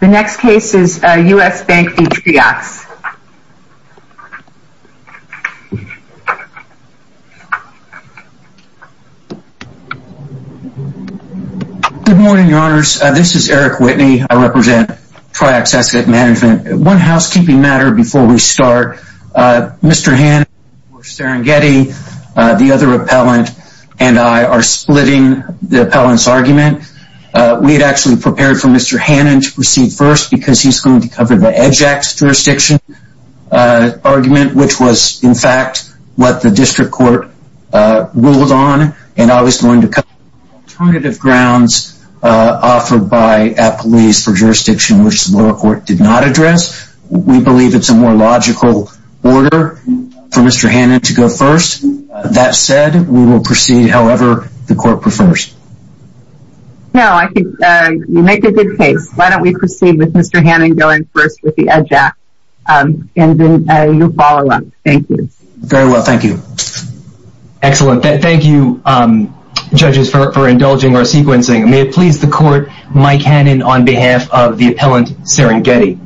The next case is U.S. Bank v. Triaxx. Good morning, Your Honors. This is Eric Whitney. I represent Triaxx Asset Management. One housekeeping matter before we start. Mr. Hannon, Mr. Serengeti, the other appellant, and I are splitting the appellant's argument. We had actually prepared for Mr. Hannon to proceed first because he's going to cover the EJAC jurisdiction argument, which was, in fact, what the district court ruled on, and I was going to cover alternative grounds offered by appellees for jurisdiction which the lower court did not address. We believe it's a more logical order for Mr. Hannon to go first. That said, we will proceed however the court prefers. No, I think you make a good case. Why don't we proceed with Mr. Hannon going first with the EJAC, and then you follow up. Thank you. Very well. Thank you. Excellent. Thank you, judges, for indulging our sequencing. May it please the court, Mike Hannon on behalf of the appellant, Serengeti.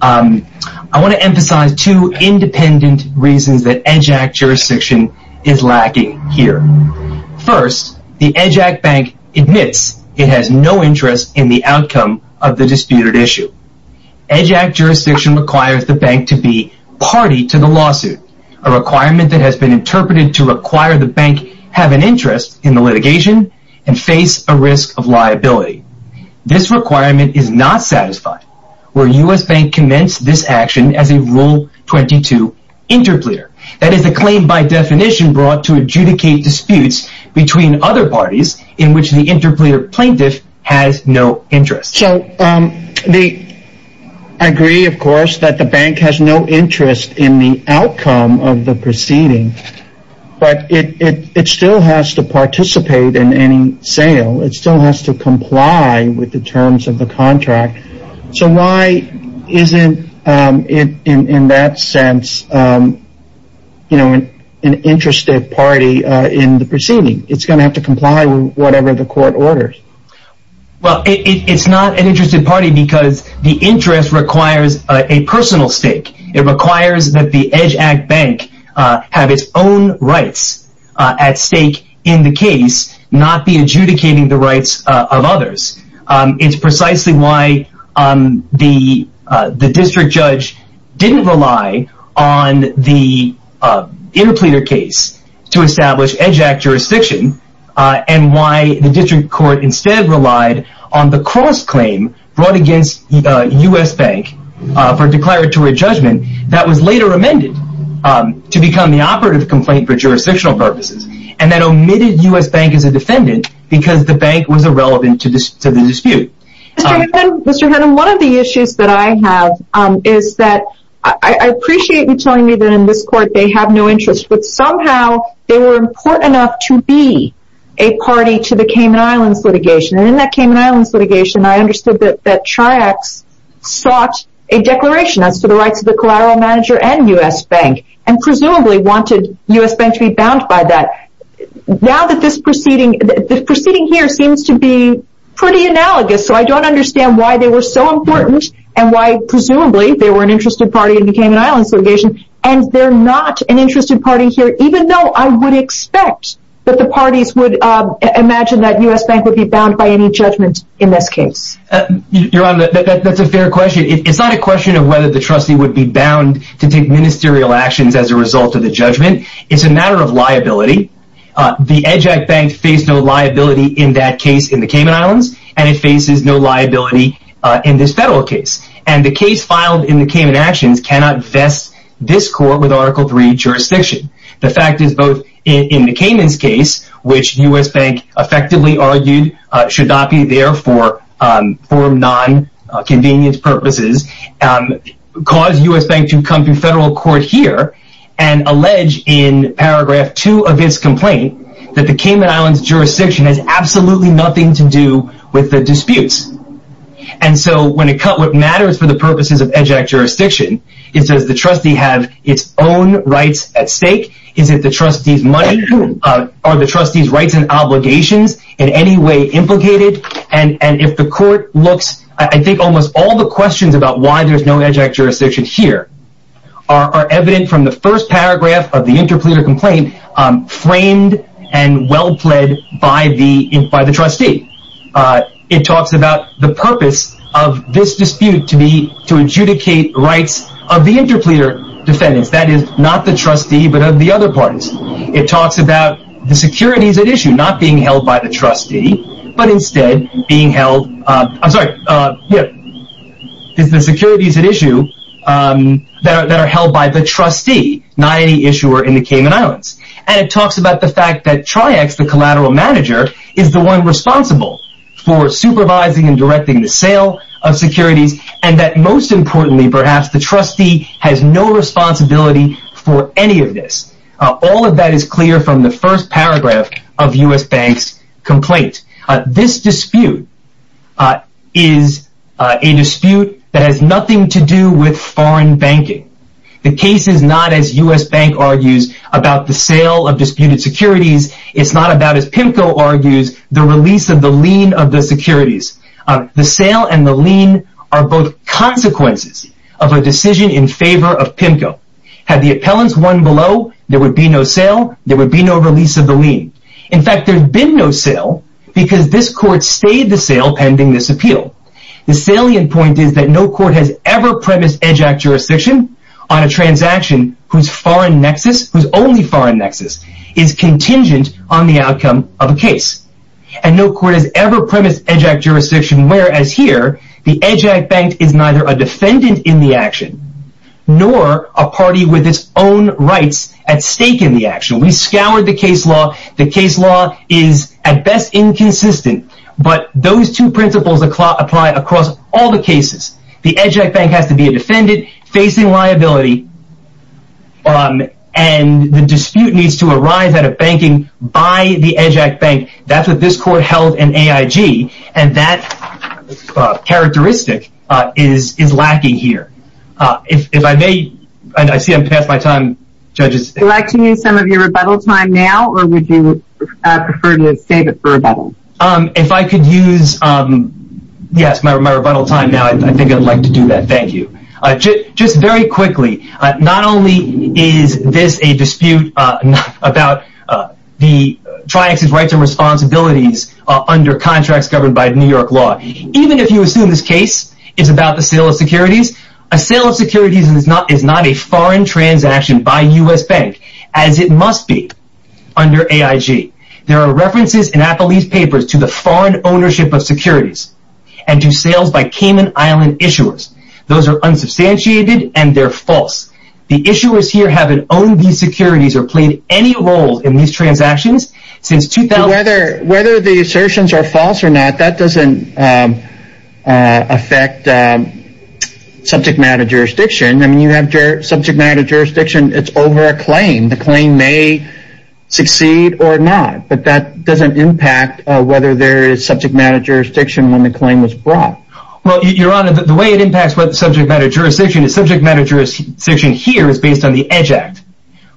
I want to emphasize two independent reasons that EJAC jurisdiction is lacking here. First, the EJAC bank admits it has no interest in the outcome of the disputed issue. EJAC jurisdiction requires the bank to be party to the lawsuit, a requirement that has been interpreted to require the bank have an interest in the litigation and face a risk of liability. This requirement is not satisfied, where U.S. bank commenced this action as a Rule 22 interpleader. That is a claim by definition brought to adjudicate disputes between other parties in which the interpleader plaintiff has no interest. So, I agree, of course, that the bank has no interest in the outcome of the proceeding, but it still has to participate in any sale. It still has to comply with the terms of the contract. So, why isn't it, in that sense, an interested party in the proceeding? It's going to have to comply with whatever the court orders. Well, it's not an interested party because the interest requires a personal stake. It requires that the EJAC bank have its own rights at stake in the case, not be adjudicating the rights of others. It's precisely why the district judge didn't rely on the interpleader case to establish EJAC jurisdiction and why the district court instead relied on the cross-claim brought against U.S. bank for declaratory judgment that was later amended to become the operative complaint for jurisdictional purposes and that omitted U.S. bank as a defendant because the bank was irrelevant to the dispute. Mr. Hennum, one of the issues that I have is that I appreciate you telling me that in this court they have no interest, but somehow they were important enough to be a party to the Cayman Islands litigation. In that Cayman Islands litigation, I understood that Triax sought a declaration as to the rights of the collateral manager and U.S. bank and presumably wanted U.S. bank to be bound by that. Now that this proceeding, the proceeding here seems to be pretty analogous, so I don't understand why they were so important and why, presumably, they were an interested party in the Cayman Islands litigation and they're not an interested party here, even though I would expect that the parties would imagine that U.S. bank would be bound by any judgment in this case. Your Honor, that's a fair question. It's not a question of whether the trustee would be bound to take ministerial actions as a result of the judgment. It's a matter of liability. The EJAC bank faced no liability in that case in the Cayman Islands and it faces no liability in this federal case. And the case filed in the Cayman Actions cannot vest this court with Article III jurisdiction. The fact is both in the Cayman's case, which U.S. bank effectively argued should not be there for non-convenience purposes, caused U.S. bank to come to federal court here and allege in paragraph 2 of its complaint that the Cayman Islands jurisdiction has absolutely nothing to do with the disputes. And so when it comes to what matters for the purposes of EJAC jurisdiction, it says the trustee has its own rights at stake. Is it the trustee's money? Are the trustee's rights and obligations in any way implicated? And if the court looks, I think almost all the questions about why there's no EJAC jurisdiction here are evident from the first paragraph of the interpleader complaint framed and well-pled by the trustee. It talks about the purpose of this dispute to adjudicate rights of the interpleader defendants, that is not the trustee but of the other parties. It talks about the securities at issue not being held by the trustee, but instead being held, I'm sorry, the securities at issue that are held by the trustee, not any issuer in the Cayman Islands. And it talks about the fact that TriEx, the collateral manager, is the one responsible for supervising and directing the sale of securities and that most importantly perhaps the trustee has no responsibility for any of this. All of that is clear from the first paragraph of U.S. Bank's complaint. This dispute is a dispute that has nothing to do with foreign banking. The case is not, as U.S. Bank argues, about the sale of disputed securities. It's not about, as PIMCO argues, the release of the lien of the securities. The sale and the lien are both consequences of a decision in favor of PIMCO. Had the appellants won below, there would be no sale. There would be no release of the lien. In fact, there's been no sale because this court stayed the sale pending this appeal. The salient point is that no court has ever premised EDGE Act jurisdiction on a transaction whose foreign nexus, whose only foreign nexus, is contingent on the outcome of a case. And no court has ever premised EDGE Act jurisdiction whereas here the EDGE Act bank is neither a defendant in the action nor a party with its own rights at stake in the action. We scoured the case law. The case law is at best inconsistent. But those two principles apply across all the cases. The EDGE Act bank has to be a defendant facing liability and the dispute needs to arise out of banking by the EDGE Act bank. That's what this court held in AIG and that characteristic is lacking here. If I may, I see I'm past my time, judges. Would you like to use some of your rebuttal time now or would you prefer to save it for rebuttal? If I could use, yes, my rebuttal time now, I think I'd like to do that. Thank you. Just very quickly, not only is this a dispute about the Tri-Ex's rights and responsibilities under contracts governed by New York law. Even if you assume this case is about the sale of securities, a sale of securities is not a foreign transaction by U.S. Bank as it must be under AIG. There are references in Applebee's papers to the foreign ownership of securities and to sales by Cayman Island issuers. Those are unsubstantiated and they're false. The issuers here haven't owned these securities or played any role in these transactions since 2000. Whether the assertions are false or not, that doesn't affect subject matter jurisdiction. You have subject matter jurisdiction, it's over a claim. The claim may succeed or not. But that doesn't impact whether there is subject matter jurisdiction when the claim is brought. Your Honor, the way it impacts subject matter jurisdiction is subject matter jurisdiction here is based on the EDGE Act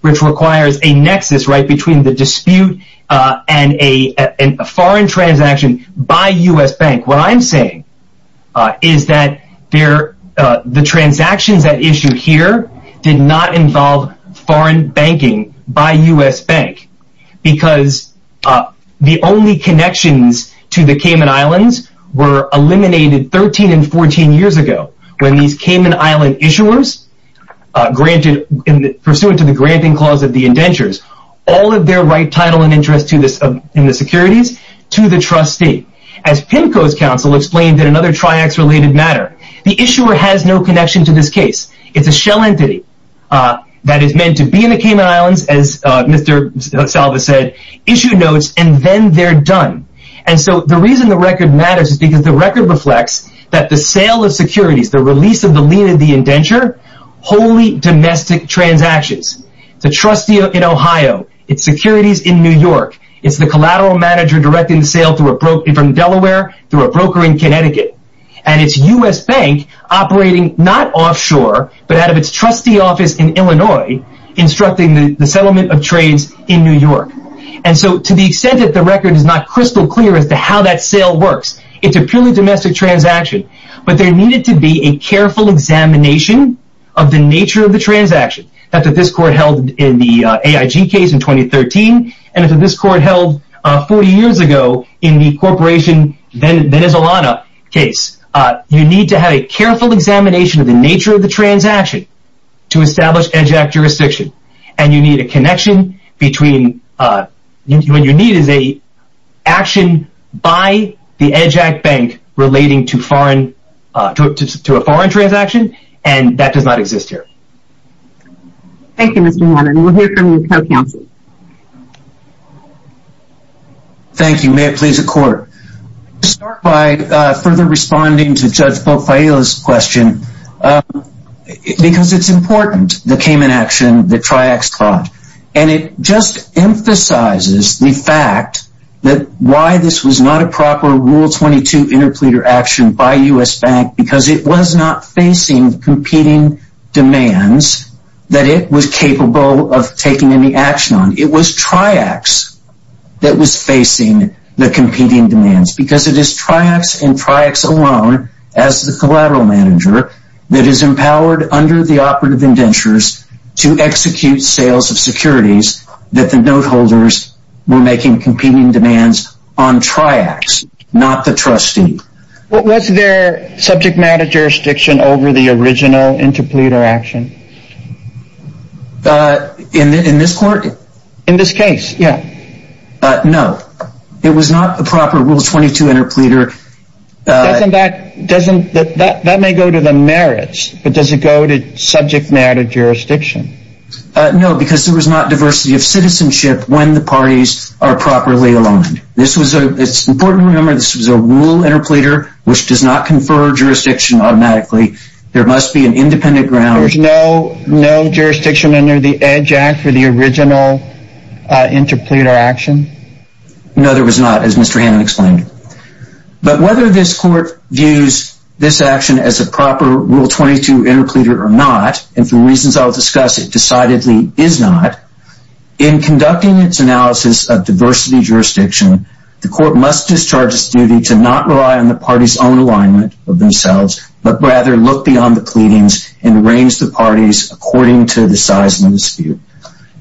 which requires a nexus between the dispute and a foreign transaction by U.S. Bank. What I'm saying is that the transactions at issue here did not involve foreign banking by U.S. Bank because the only connections to the Cayman Islands were eliminated 13 and 14 years ago when these Cayman Island issuers, pursuant to the granting clause of the indentures, all of their right title and interest in the securities to the trustee. As PIMCO's counsel explained in another Triax-related matter, the issuer has no connection to this case. It's a shell entity that is meant to be in the Cayman Islands, as Mr. Salvas said, issue notes, and then they're done. And so the reason the record matters is because the record reflects that the sale of securities, the release of the lien of the indenture, wholly domestic transactions. The trustee in Ohio, its securities in New York, it's the collateral manager directing the sale from Delaware to a broker in Connecticut. And it's U.S. Bank operating not offshore, but out of its trustee office in Illinois, instructing the settlement of trades in New York. And so to the extent that the record is not crystal clear as to how that sale works, it's a purely domestic transaction. But there needed to be a careful examination of the nature of the transaction. After this court held in the AIG case in 2013, and after this court held 40 years ago in the Corporation Venezolana case, you need to have a careful examination of the nature of the transaction to establish EJAC jurisdiction. And you need a connection between, what you need is an action by the EJAC bank relating to a foreign transaction, and that does not exist here. Thank you, Mr. Hammond. We'll hear from your co-counsel. Thank you. May it please the court. I'll start by further responding to Judge Pope-Failla's question. Because it's important, the Cayman action, the Tri-X fraud. And it just emphasizes the fact that why this was not a proper Rule 22 interpleader action by U.S. Bank, because it was not facing competing demands that it was capable of taking any action on. It was Tri-X that was facing the competing demands. Because it is Tri-X and Tri-X alone, as the collateral manager, that is empowered under the operative indentures to execute sales of securities that the note holders were making competing demands on Tri-X, not the trustee. Was there subject matter jurisdiction over the original interpleader action? In this court? In this case, yeah. No. It was not a proper Rule 22 interpleader. That may go to the merits, but does it go to subject matter jurisdiction? No, because there was not diversity of citizenship when the parties are properly aligned. It's important to remember this was a Rule interpleader, which does not confer jurisdiction automatically. There must be an independent ground. There was no jurisdiction under the EDGE Act for the original interpleader action? No, there was not, as Mr. Hannan explained. But whether this court views this action as a proper Rule 22 interpleader or not, and for reasons I will discuss, it decidedly is not, in conducting its analysis of diversity jurisdiction, the court must discharge its duty to not rely on the parties' own alignment of themselves, but rather look beyond the pleadings and arrange the parties according to the size of the dispute.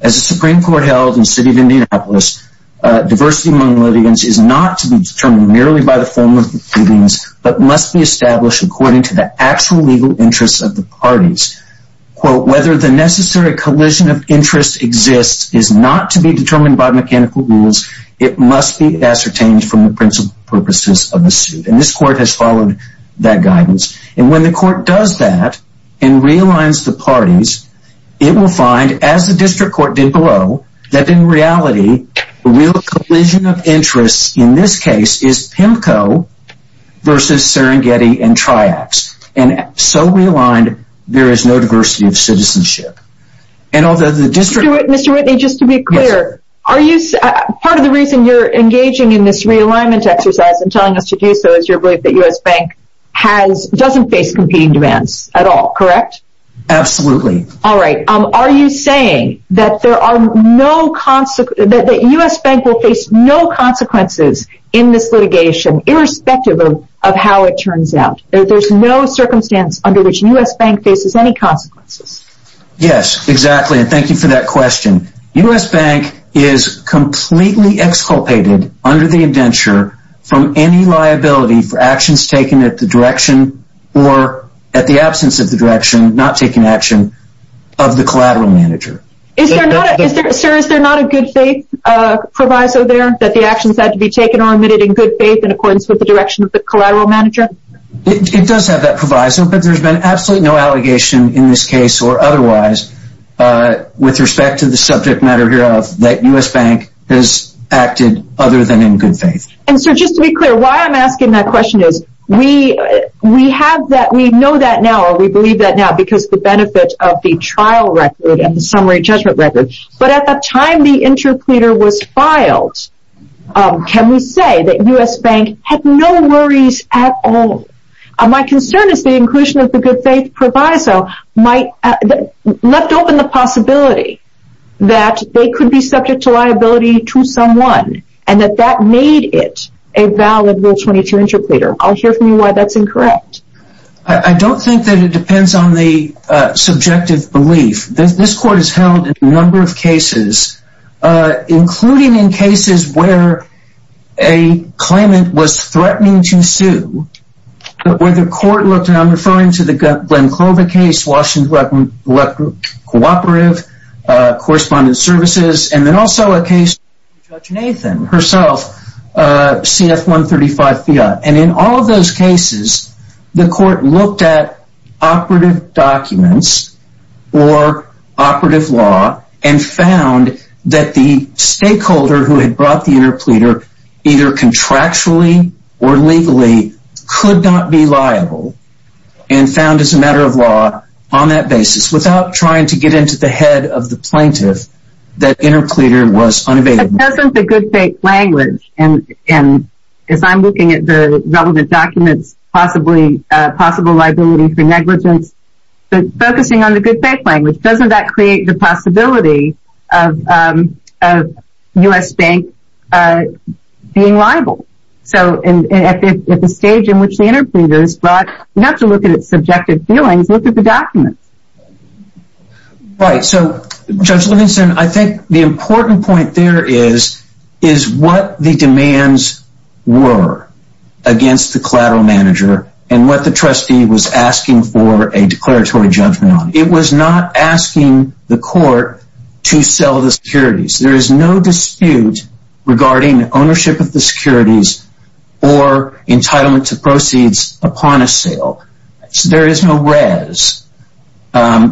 As the Supreme Court held in the city of Indianapolis, diversity among litigants is not to be determined merely by the form of the pleadings, but must be established according to the actual legal interests of the parties. Whether the necessary collision of interests exists is not to be determined by mechanical rules. It must be ascertained from the principal purposes of the suit. And this court has followed that guidance. And when the court does that and realigns the parties, it will find, as the district court did below, that in reality the real collision of interests in this case is PIMCO versus Serengeti and Triax. And so realigned, there is no diversity of citizenship. Mr. Whitney, just to be clear, part of the reason you're engaging in this realignment exercise and telling us to do so is your belief that U.S. Bank doesn't face competing demands at all, correct? Absolutely. Alright. Are you saying that U.S. Bank will face no consequences in this litigation, irrespective of how it turns out? That there's no circumstance under which U.S. Bank faces any consequences? Yes, exactly. And thank you for that question. U.S. Bank is completely exculpated under the indenture from any liability for actions taken at the direction or at the absence of the direction, not taking action, of the collateral manager. Sir, is there not a good faith proviso there, that the actions had to be taken or admitted in good faith in accordance with the direction of the collateral manager? It does have that proviso, but there's been absolutely no allegation in this case or otherwise with respect to the subject matter hereof, that U.S. Bank has acted other than in good faith. And sir, just to be clear, why I'm asking that question is, we have that, we know that now, or we believe that now, because of the benefit of the trial record and the summary judgment record, but at the time the interpleader was filed, can we say that U.S. Bank had no worries at all? My concern is the inclusion of the good faith proviso left open the possibility that they could be subject to liability to someone, and that that made it a valid Rule 22 interpleader. I'll hear from you why that's incorrect. I don't think that it depends on the subjective belief. This court has held a number of cases, including in cases where a claimant was threatening to sue, where the court looked, and I'm referring to the Glenn Clover case, Washington Electro Cooperative, Correspondent Services, and then also a case of Judge Nathan, herself, CF-135 Fiat. And in all of those cases, the court looked at operative documents or operative law and found that the stakeholder who had brought the interpleader either contractually or legally could not be liable and found as a matter of law on that basis, without trying to get into the head of the plaintiff, that interpleader was unavailable. But doesn't the good faith language, and as I'm looking at the relevant documents, possibly liability for negligence, but focusing on the good faith language, doesn't that create the possibility of U.S. Bank being liable? So at the stage in which the interpleader is brought, you have to look at its subjective feelings, look at the documents. Right, so Judge Livingston, I think the important point there is what the demands were against the collateral manager and what the trustee was asking for a declaratory judgment on. It was not asking the court to sell the securities. There is no dispute regarding ownership of the securities or entitlement to proceeds upon a sale. There is no res,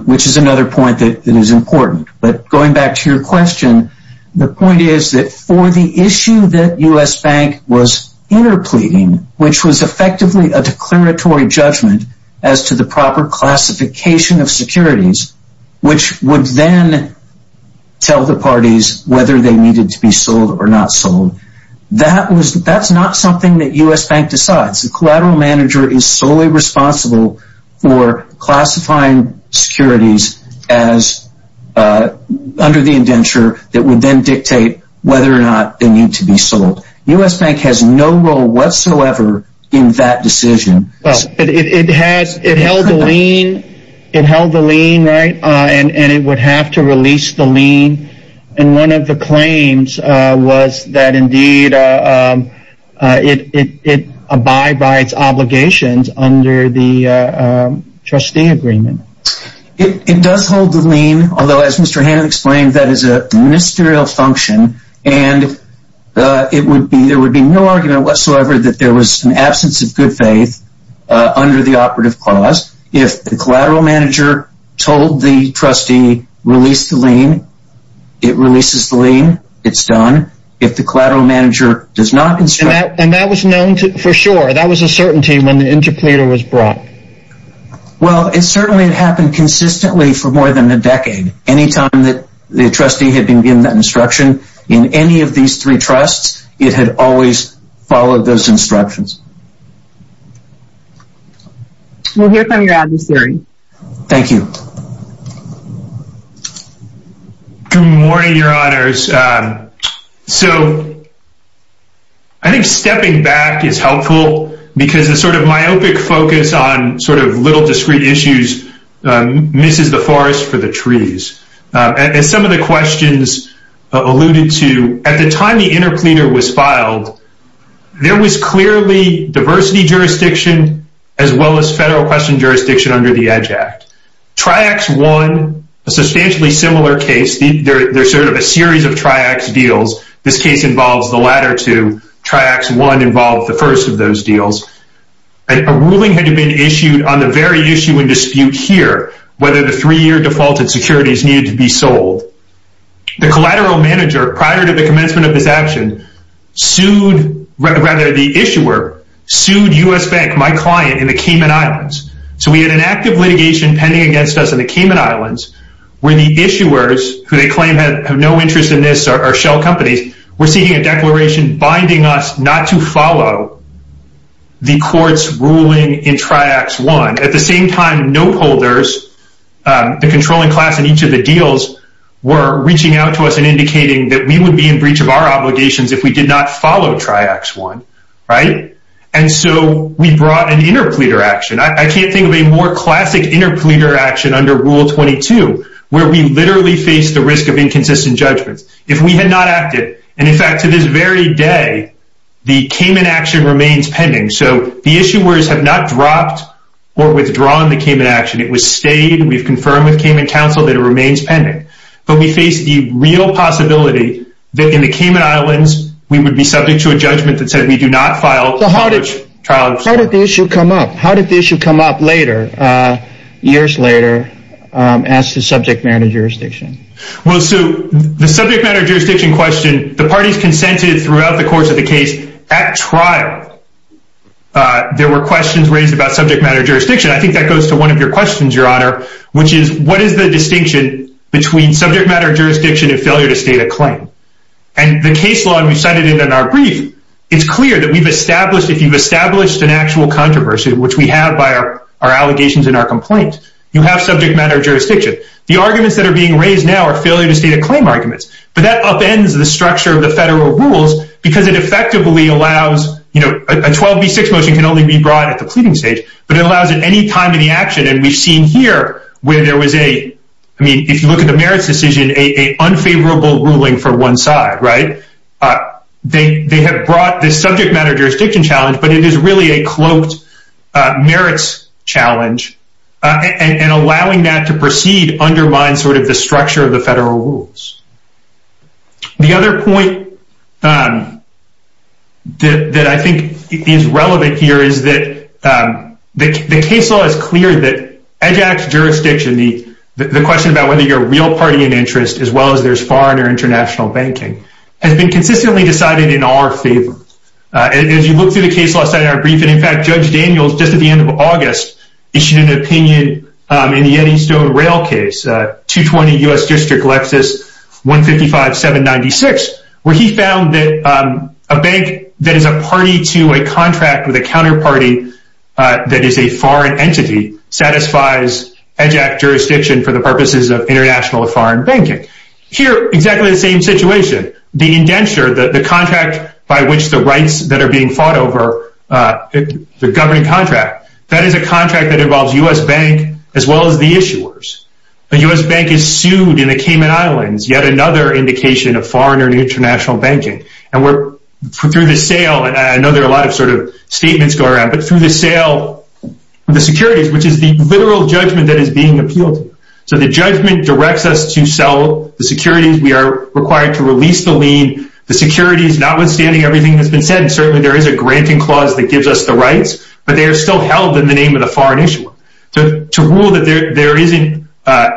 which is another point that is important. But going back to your question, the point is that for the issue that U.S. Bank was interpleading, which was effectively a declaratory judgment as to the proper classification of securities, which would then tell the parties whether they needed to be sold or not sold, that's not something that U.S. Bank decides. The collateral manager is solely responsible for classifying securities under the indenture that would then dictate whether or not they need to be sold. U.S. Bank has no role whatsoever in that decision. It held the lien, right, and it would have to release the lien. And one of the claims was that indeed it abides by its obligations under the trustee agreement. It does hold the lien, although as Mr. Hannan explained, that is a ministerial function, and there would be no argument whatsoever that there was an absence of good faith under the operative clause. If the collateral manager told the trustee, release the lien, it releases the lien, it's done. If the collateral manager does not construct... And that was known for sure. That was a certainty when the interpleader was brought. Well, it certainly had happened consistently for more than a decade. Any time that the trustee had been given that instruction, in any of these three trusts, it had always followed those instructions. We'll hear from your adversary. Thank you. Good morning, Your Honors. So I think stepping back is helpful because the sort of myopic focus on sort of little discrete issues misses the forest for the trees. And some of the questions alluded to, at the time the interpleader was filed, there was clearly diversity jurisdiction as well as federal question jurisdiction under the EDGE Act. TRIACS 1, a substantially similar case, there's sort of a series of TRIACS deals. This case involves the latter two. TRIACS 1 involved the first of those deals. A ruling had been issued on the very issue in dispute here, whether the three-year defaulted securities needed to be sold. The collateral manager, prior to the commencement of this action, sued, rather the issuer, sued U.S. Bank, my client, in the Cayman Islands. So we had an active litigation pending against us in the Cayman Islands where the issuers, who they claim have no interest in this or shell companies, were seeking a declaration binding us not to follow the court's ruling in TRIACS 1. At the same time, note holders, the controlling class in each of the deals, were reaching out to us and indicating that we would be in breach of our obligations if we did not follow TRIACS 1, right? And so we brought an interpleader action. I can't think of a more classic interpleader action under Rule 22 where we literally face the risk of inconsistent judgments. If we had not acted, and in fact to this very day, the Cayman action remains pending. So the issuers have not dropped or withdrawn the Cayman action. It was stayed. We've confirmed with Cayman Council that it remains pending. But we face the real possibility that in the Cayman Islands, we would be subject to a judgment that said we do not file charge. So how did the issue come up? How did the issue come up later, years later, as to subject matter jurisdiction? Well, Sue, the subject matter jurisdiction question, the parties consented throughout the course of the case. At trial, there were questions raised about subject matter jurisdiction. I think that goes to one of your questions, Your Honor, which is what is the distinction between subject matter jurisdiction and failure to state a claim? And the case law, and we've cited it in our brief, it's clear that we've established, if you've established an actual controversy, which we have by our allegations and our complaints, you have subject matter jurisdiction. The arguments that are being raised now are failure to state a claim arguments. But that upends the structure of the federal rules because it effectively allows, you know, a 12B6 motion can only be brought at the pleading stage, but it allows it any time in the action. And we've seen here where there was a, I mean, if you look at the merits decision, a unfavorable ruling for one side, right? They have brought this subject matter jurisdiction challenge, but it is really a cloaked merits challenge, and allowing that to proceed undermines sort of the structure of the federal rules. The other point that I think is relevant here is that the case law is clear that EDGE Act jurisdiction, the question about whether you're a real party in interest as well as there's foreign or international banking, has been consistently decided in our favor. As you look through the case law study in our briefing, in fact, Judge Daniels, just at the end of August, issued an opinion in the Eddystone Rail case, 220 U.S. District, Lexis 155796, where he found that a bank that is a party to a contract with a counterparty that is a foreign entity satisfies EDGE Act jurisdiction for the purposes of international or foreign banking. Here, exactly the same situation, the indenture, the contract by which the rights that are being fought over, the governing contract, that is a contract that involves U.S. Bank as well as the issuers. The U.S. Bank is sued in the Cayman Islands, yet another indication of foreign or international banking. And we're, through the sale, and I know there are a lot of sort of statements going around, but through the sale, the securities, which is the literal judgment that is being appealed to. So the judgment directs us to sell the securities. We are required to release the lien. The securities, notwithstanding everything that's been said, and certainly there is a granting clause that gives us the rights, but they are still held in the name of the foreign issuer. To rule that there isn't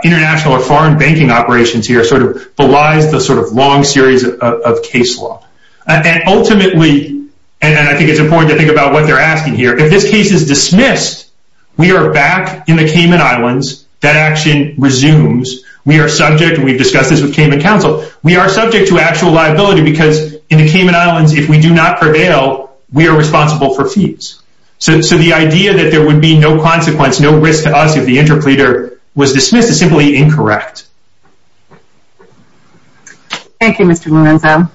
international or foreign banking operations here sort of belies the sort of long series of case law. And ultimately, and I think it's important to think about what they're asking here, if this case is dismissed, we are back in the Cayman Islands. That action resumes. We are subject, and we've discussed this with Cayman Council, we are subject to actual liability because in the Cayman Islands, if we do not prevail, we are responsible for fees. So the idea that there would be no consequence, no risk to us if the interpreter was dismissed is simply incorrect. Thank you, Mr. Lorenzo.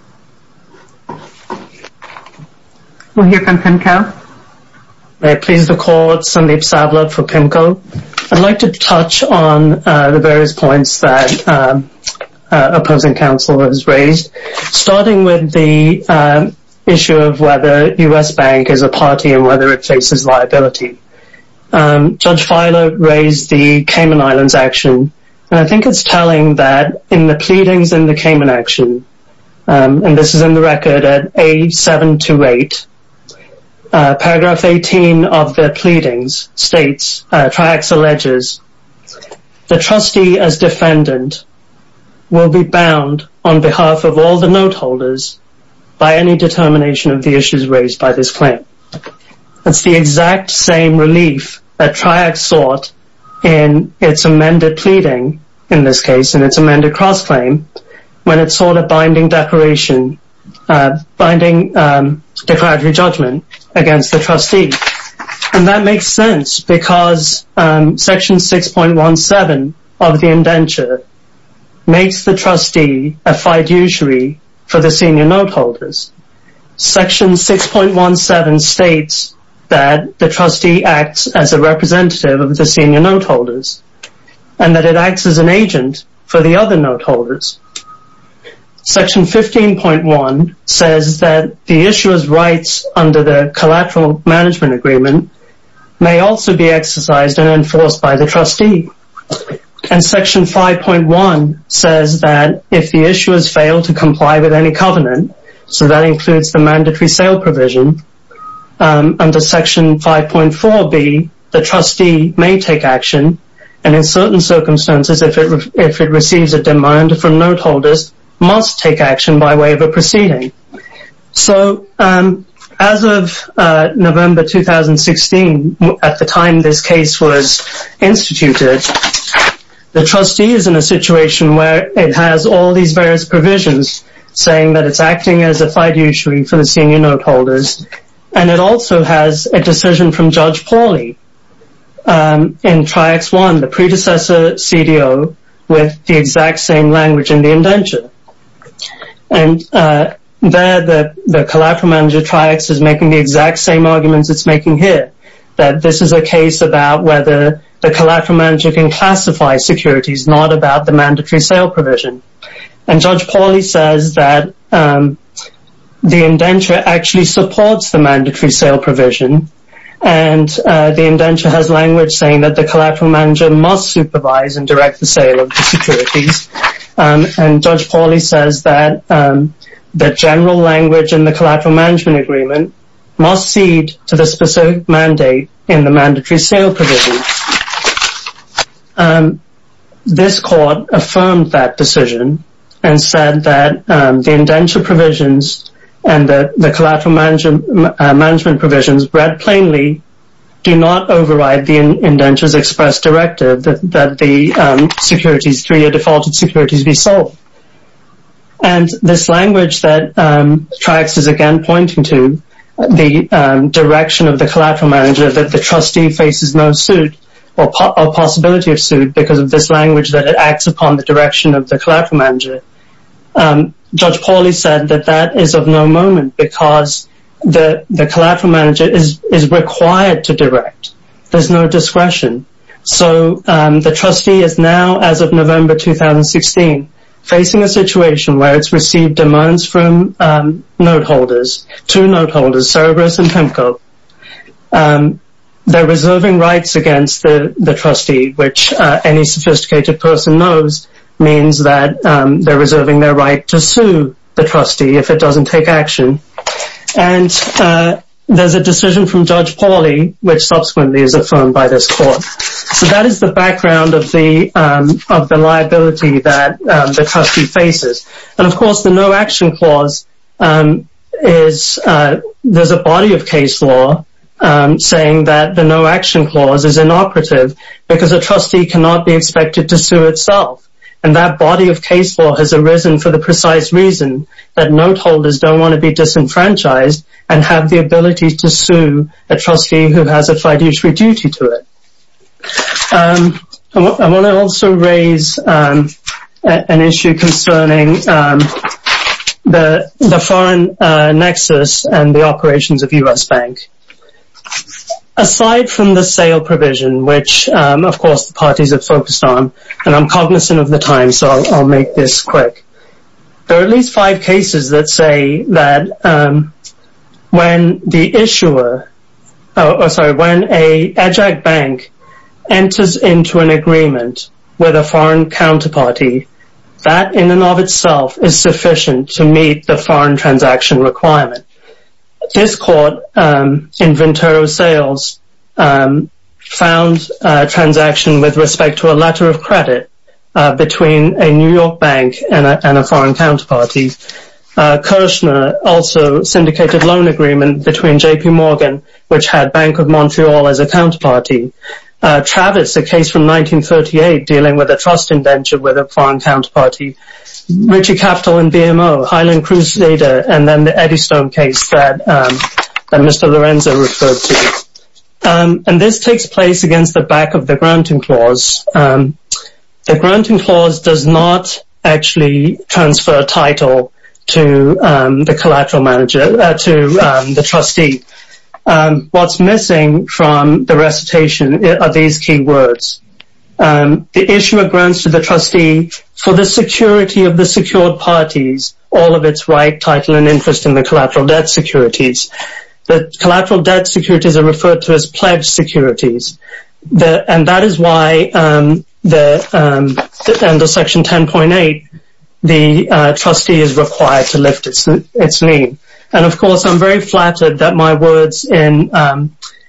We'll hear from Pimko. May it please the courts, Sandeep Sablud for Pimko. I'd like to touch on the various points that opposing counsel has raised, starting with the issue of whether U.S. Bank is a party and whether it faces liability. Judge Filer raised the Cayman Islands action, and I think it's telling that in the record, and this is in the record at A728, paragraph 18 of the pleadings states, Triax alleges, the trustee as defendant will be bound on behalf of all the note holders by any determination of the issues raised by this claim. It's the exact same relief that Triax sought in its amended pleading, in this case, in its amended cross-claim, when it sought a binding declaration, binding declaratory judgment against the trustee. And that makes sense because section 6.17 of the indenture makes the trustee a fiduciary for the senior note holders. Section 6.17 states that the trustee acts as a representative of the senior note holders and that it acts as an agent for the other note holders. Section 15.1 says that the issuer's rights under the collateral management agreement may also be exercised and enforced by the trustee. And section 5.1 says that if the issuers fail to comply with any covenant, so that includes the mandatory sale provision, under section 5.4b, the trustee may take action and in certain circumstances, if it receives a demand from note holders, must take action by way of a proceeding. So, as of November 2016, at the time this case was instituted, the trustee is in a situation where it has all these various provisions saying that it's acting as a fiduciary for the senior note holders and it also has a decision from Judge Pauly in triax 1, the predecessor CDO, with the exact same language in the indenture. And there the collateral manager triax is making the exact same arguments it's making here, that this is a case about whether the collateral manager can classify securities, not about the mandatory sale provision. And Judge Pauly says that the indenture actually supports the mandatory sale provision and the indenture has language saying that the collateral manager must supervise and direct the sale of the securities. And Judge Pauly says that the general language in the collateral management agreement must cede to the specific mandate in the mandatory sale provision. This court affirmed that decision and said that the indenture provisions and the collateral management provisions, read plainly, do not override the indenture's express directive that the securities, three-year defaulted securities, be sold. And this language that triax is again pointing to, the direction of the collateral manager that the trustee faces no suit or possibility of suit because of this language that it acts upon the direction of the collateral manager. Judge Pauly said that that is of no moment because the collateral manager is required to direct. There's no discretion. So the trustee is now, as of November 2016, facing a situation where it's received demands from note holders, two note holders, Cerberus and Pemko. They're reserving rights against the trustee, which any sophisticated person knows means that they're reserving their right to sue the trustee if it doesn't take action. And there's a decision from Judge Pauly, which subsequently is affirmed by this court. So that is the background of the liability that the trustee faces. And, of course, the no action clause is, there's a body of case law saying that the no action clause is inoperative because a trustee cannot be expected to sue itself. And that body of case law has arisen for the precise reason that note holders don't want to be disenfranchised and have the ability to sue a trustee who has a fiduciary duty to it. I want to also raise an issue concerning the foreign nexus and the operations of US Bank. Aside from the sale provision, which, of course, the parties have focused on, and I'm cognizant of the time, so I'll make this quick. There are at least five cases that say that when the issuer, sorry, when a bank enters into an agreement with a foreign counterparty, that in and of itself is sufficient to meet the foreign transaction requirement. This court in Ventura Sales found a transaction with respect to a letter of credit between a New York bank and a foreign counterparty. Kirchner also syndicated a loan agreement between J.P. Morgan, which had Bank of Montreal as a counterparty. Travis, a case from 1938 dealing with a trust in Ventura with a foreign counterparty. Richey Capital and BMO, Highland Cruise Data, and then the Eddystone case that Mr. Lorenzo referred to. This takes place against the back of the granting clause. The granting clause does not actually transfer a title to the trustee. What's missing from the recitation are these key words. The issuer grants to the trustee for the security of the secured parties all of its right, title, and interest in the collateral debt securities. The collateral debt securities are referred to as pledged securities. That is why under Section 10.8 the trustee is required to lift its name. Of course, I'm very flattered that my words in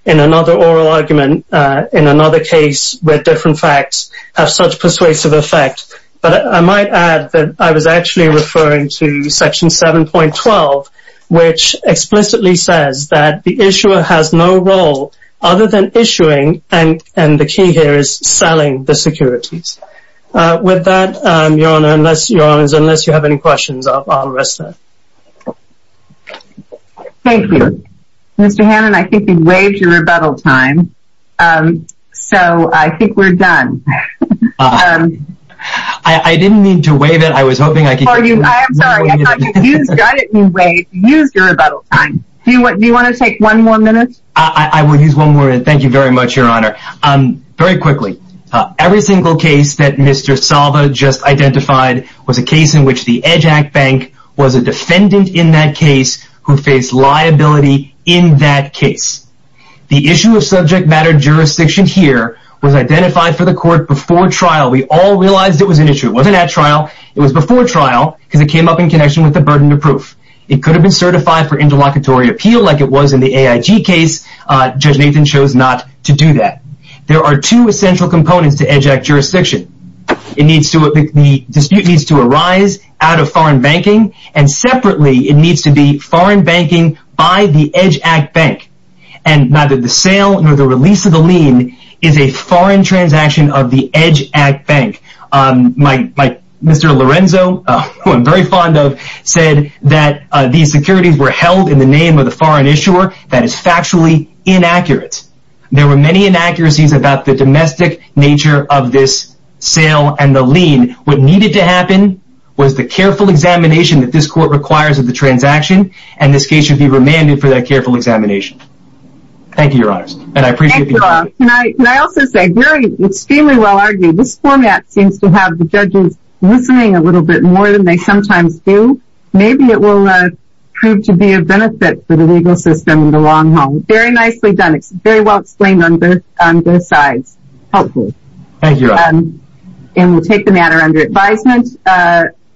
another oral argument, in another case where different facts have such persuasive effect, but I might add that I was actually referring to Section 7.12, which explicitly says that the issuer has no role other than issuing, and the key here is selling, the securities. With that, Your Honor, unless you have any questions, I'll rest there. Thank you. Mr. Hannan, I think we've waived your rebuttal time, so I think we're done. I didn't mean to waive it. I was hoping I could use your rebuttal time. Do you want to take one more minute? I will use one more minute. Thank you very much, Your Honor. Very quickly, every single case that Mr. Salva just identified was a case in which the EDGE Act Bank was a defendant in that case who faced liability in that case. The issue of subject matter jurisdiction here was identified for the court before trial. We all realized it was an issue. It wasn't at trial. It was before trial because it came up in connection with the burden of proof. It could have been certified for interlocutory appeal like it was in the AIG case. Judge Nathan chose not to do that. There are two essential components to EDGE Act jurisdiction. The dispute needs to arise out of foreign banking, and separately, it needs to be foreign banking by the EDGE Act Bank. Neither the sale nor the release of the lien is a foreign transaction of the EDGE Act Bank. Mr. Lorenzo, who I'm very fond of, said that these securities were held in the name of the foreign issuer. That is factually inaccurate. There were many inaccuracies about the domestic nature of this sale and the lien. What needed to happen was the careful examination that this court requires of the transaction, and this case should be remanded for that careful examination. Thank you, Your Honors. Can I also say, extremely well argued, this format seems to have the judges listening a little bit more than they sometimes do. Maybe it will prove to be a benefit for the legal system in the long haul. Very nicely done. Very well explained on both sides. Helpful. Thank you, Your Honor. We'll take the matter under advisement.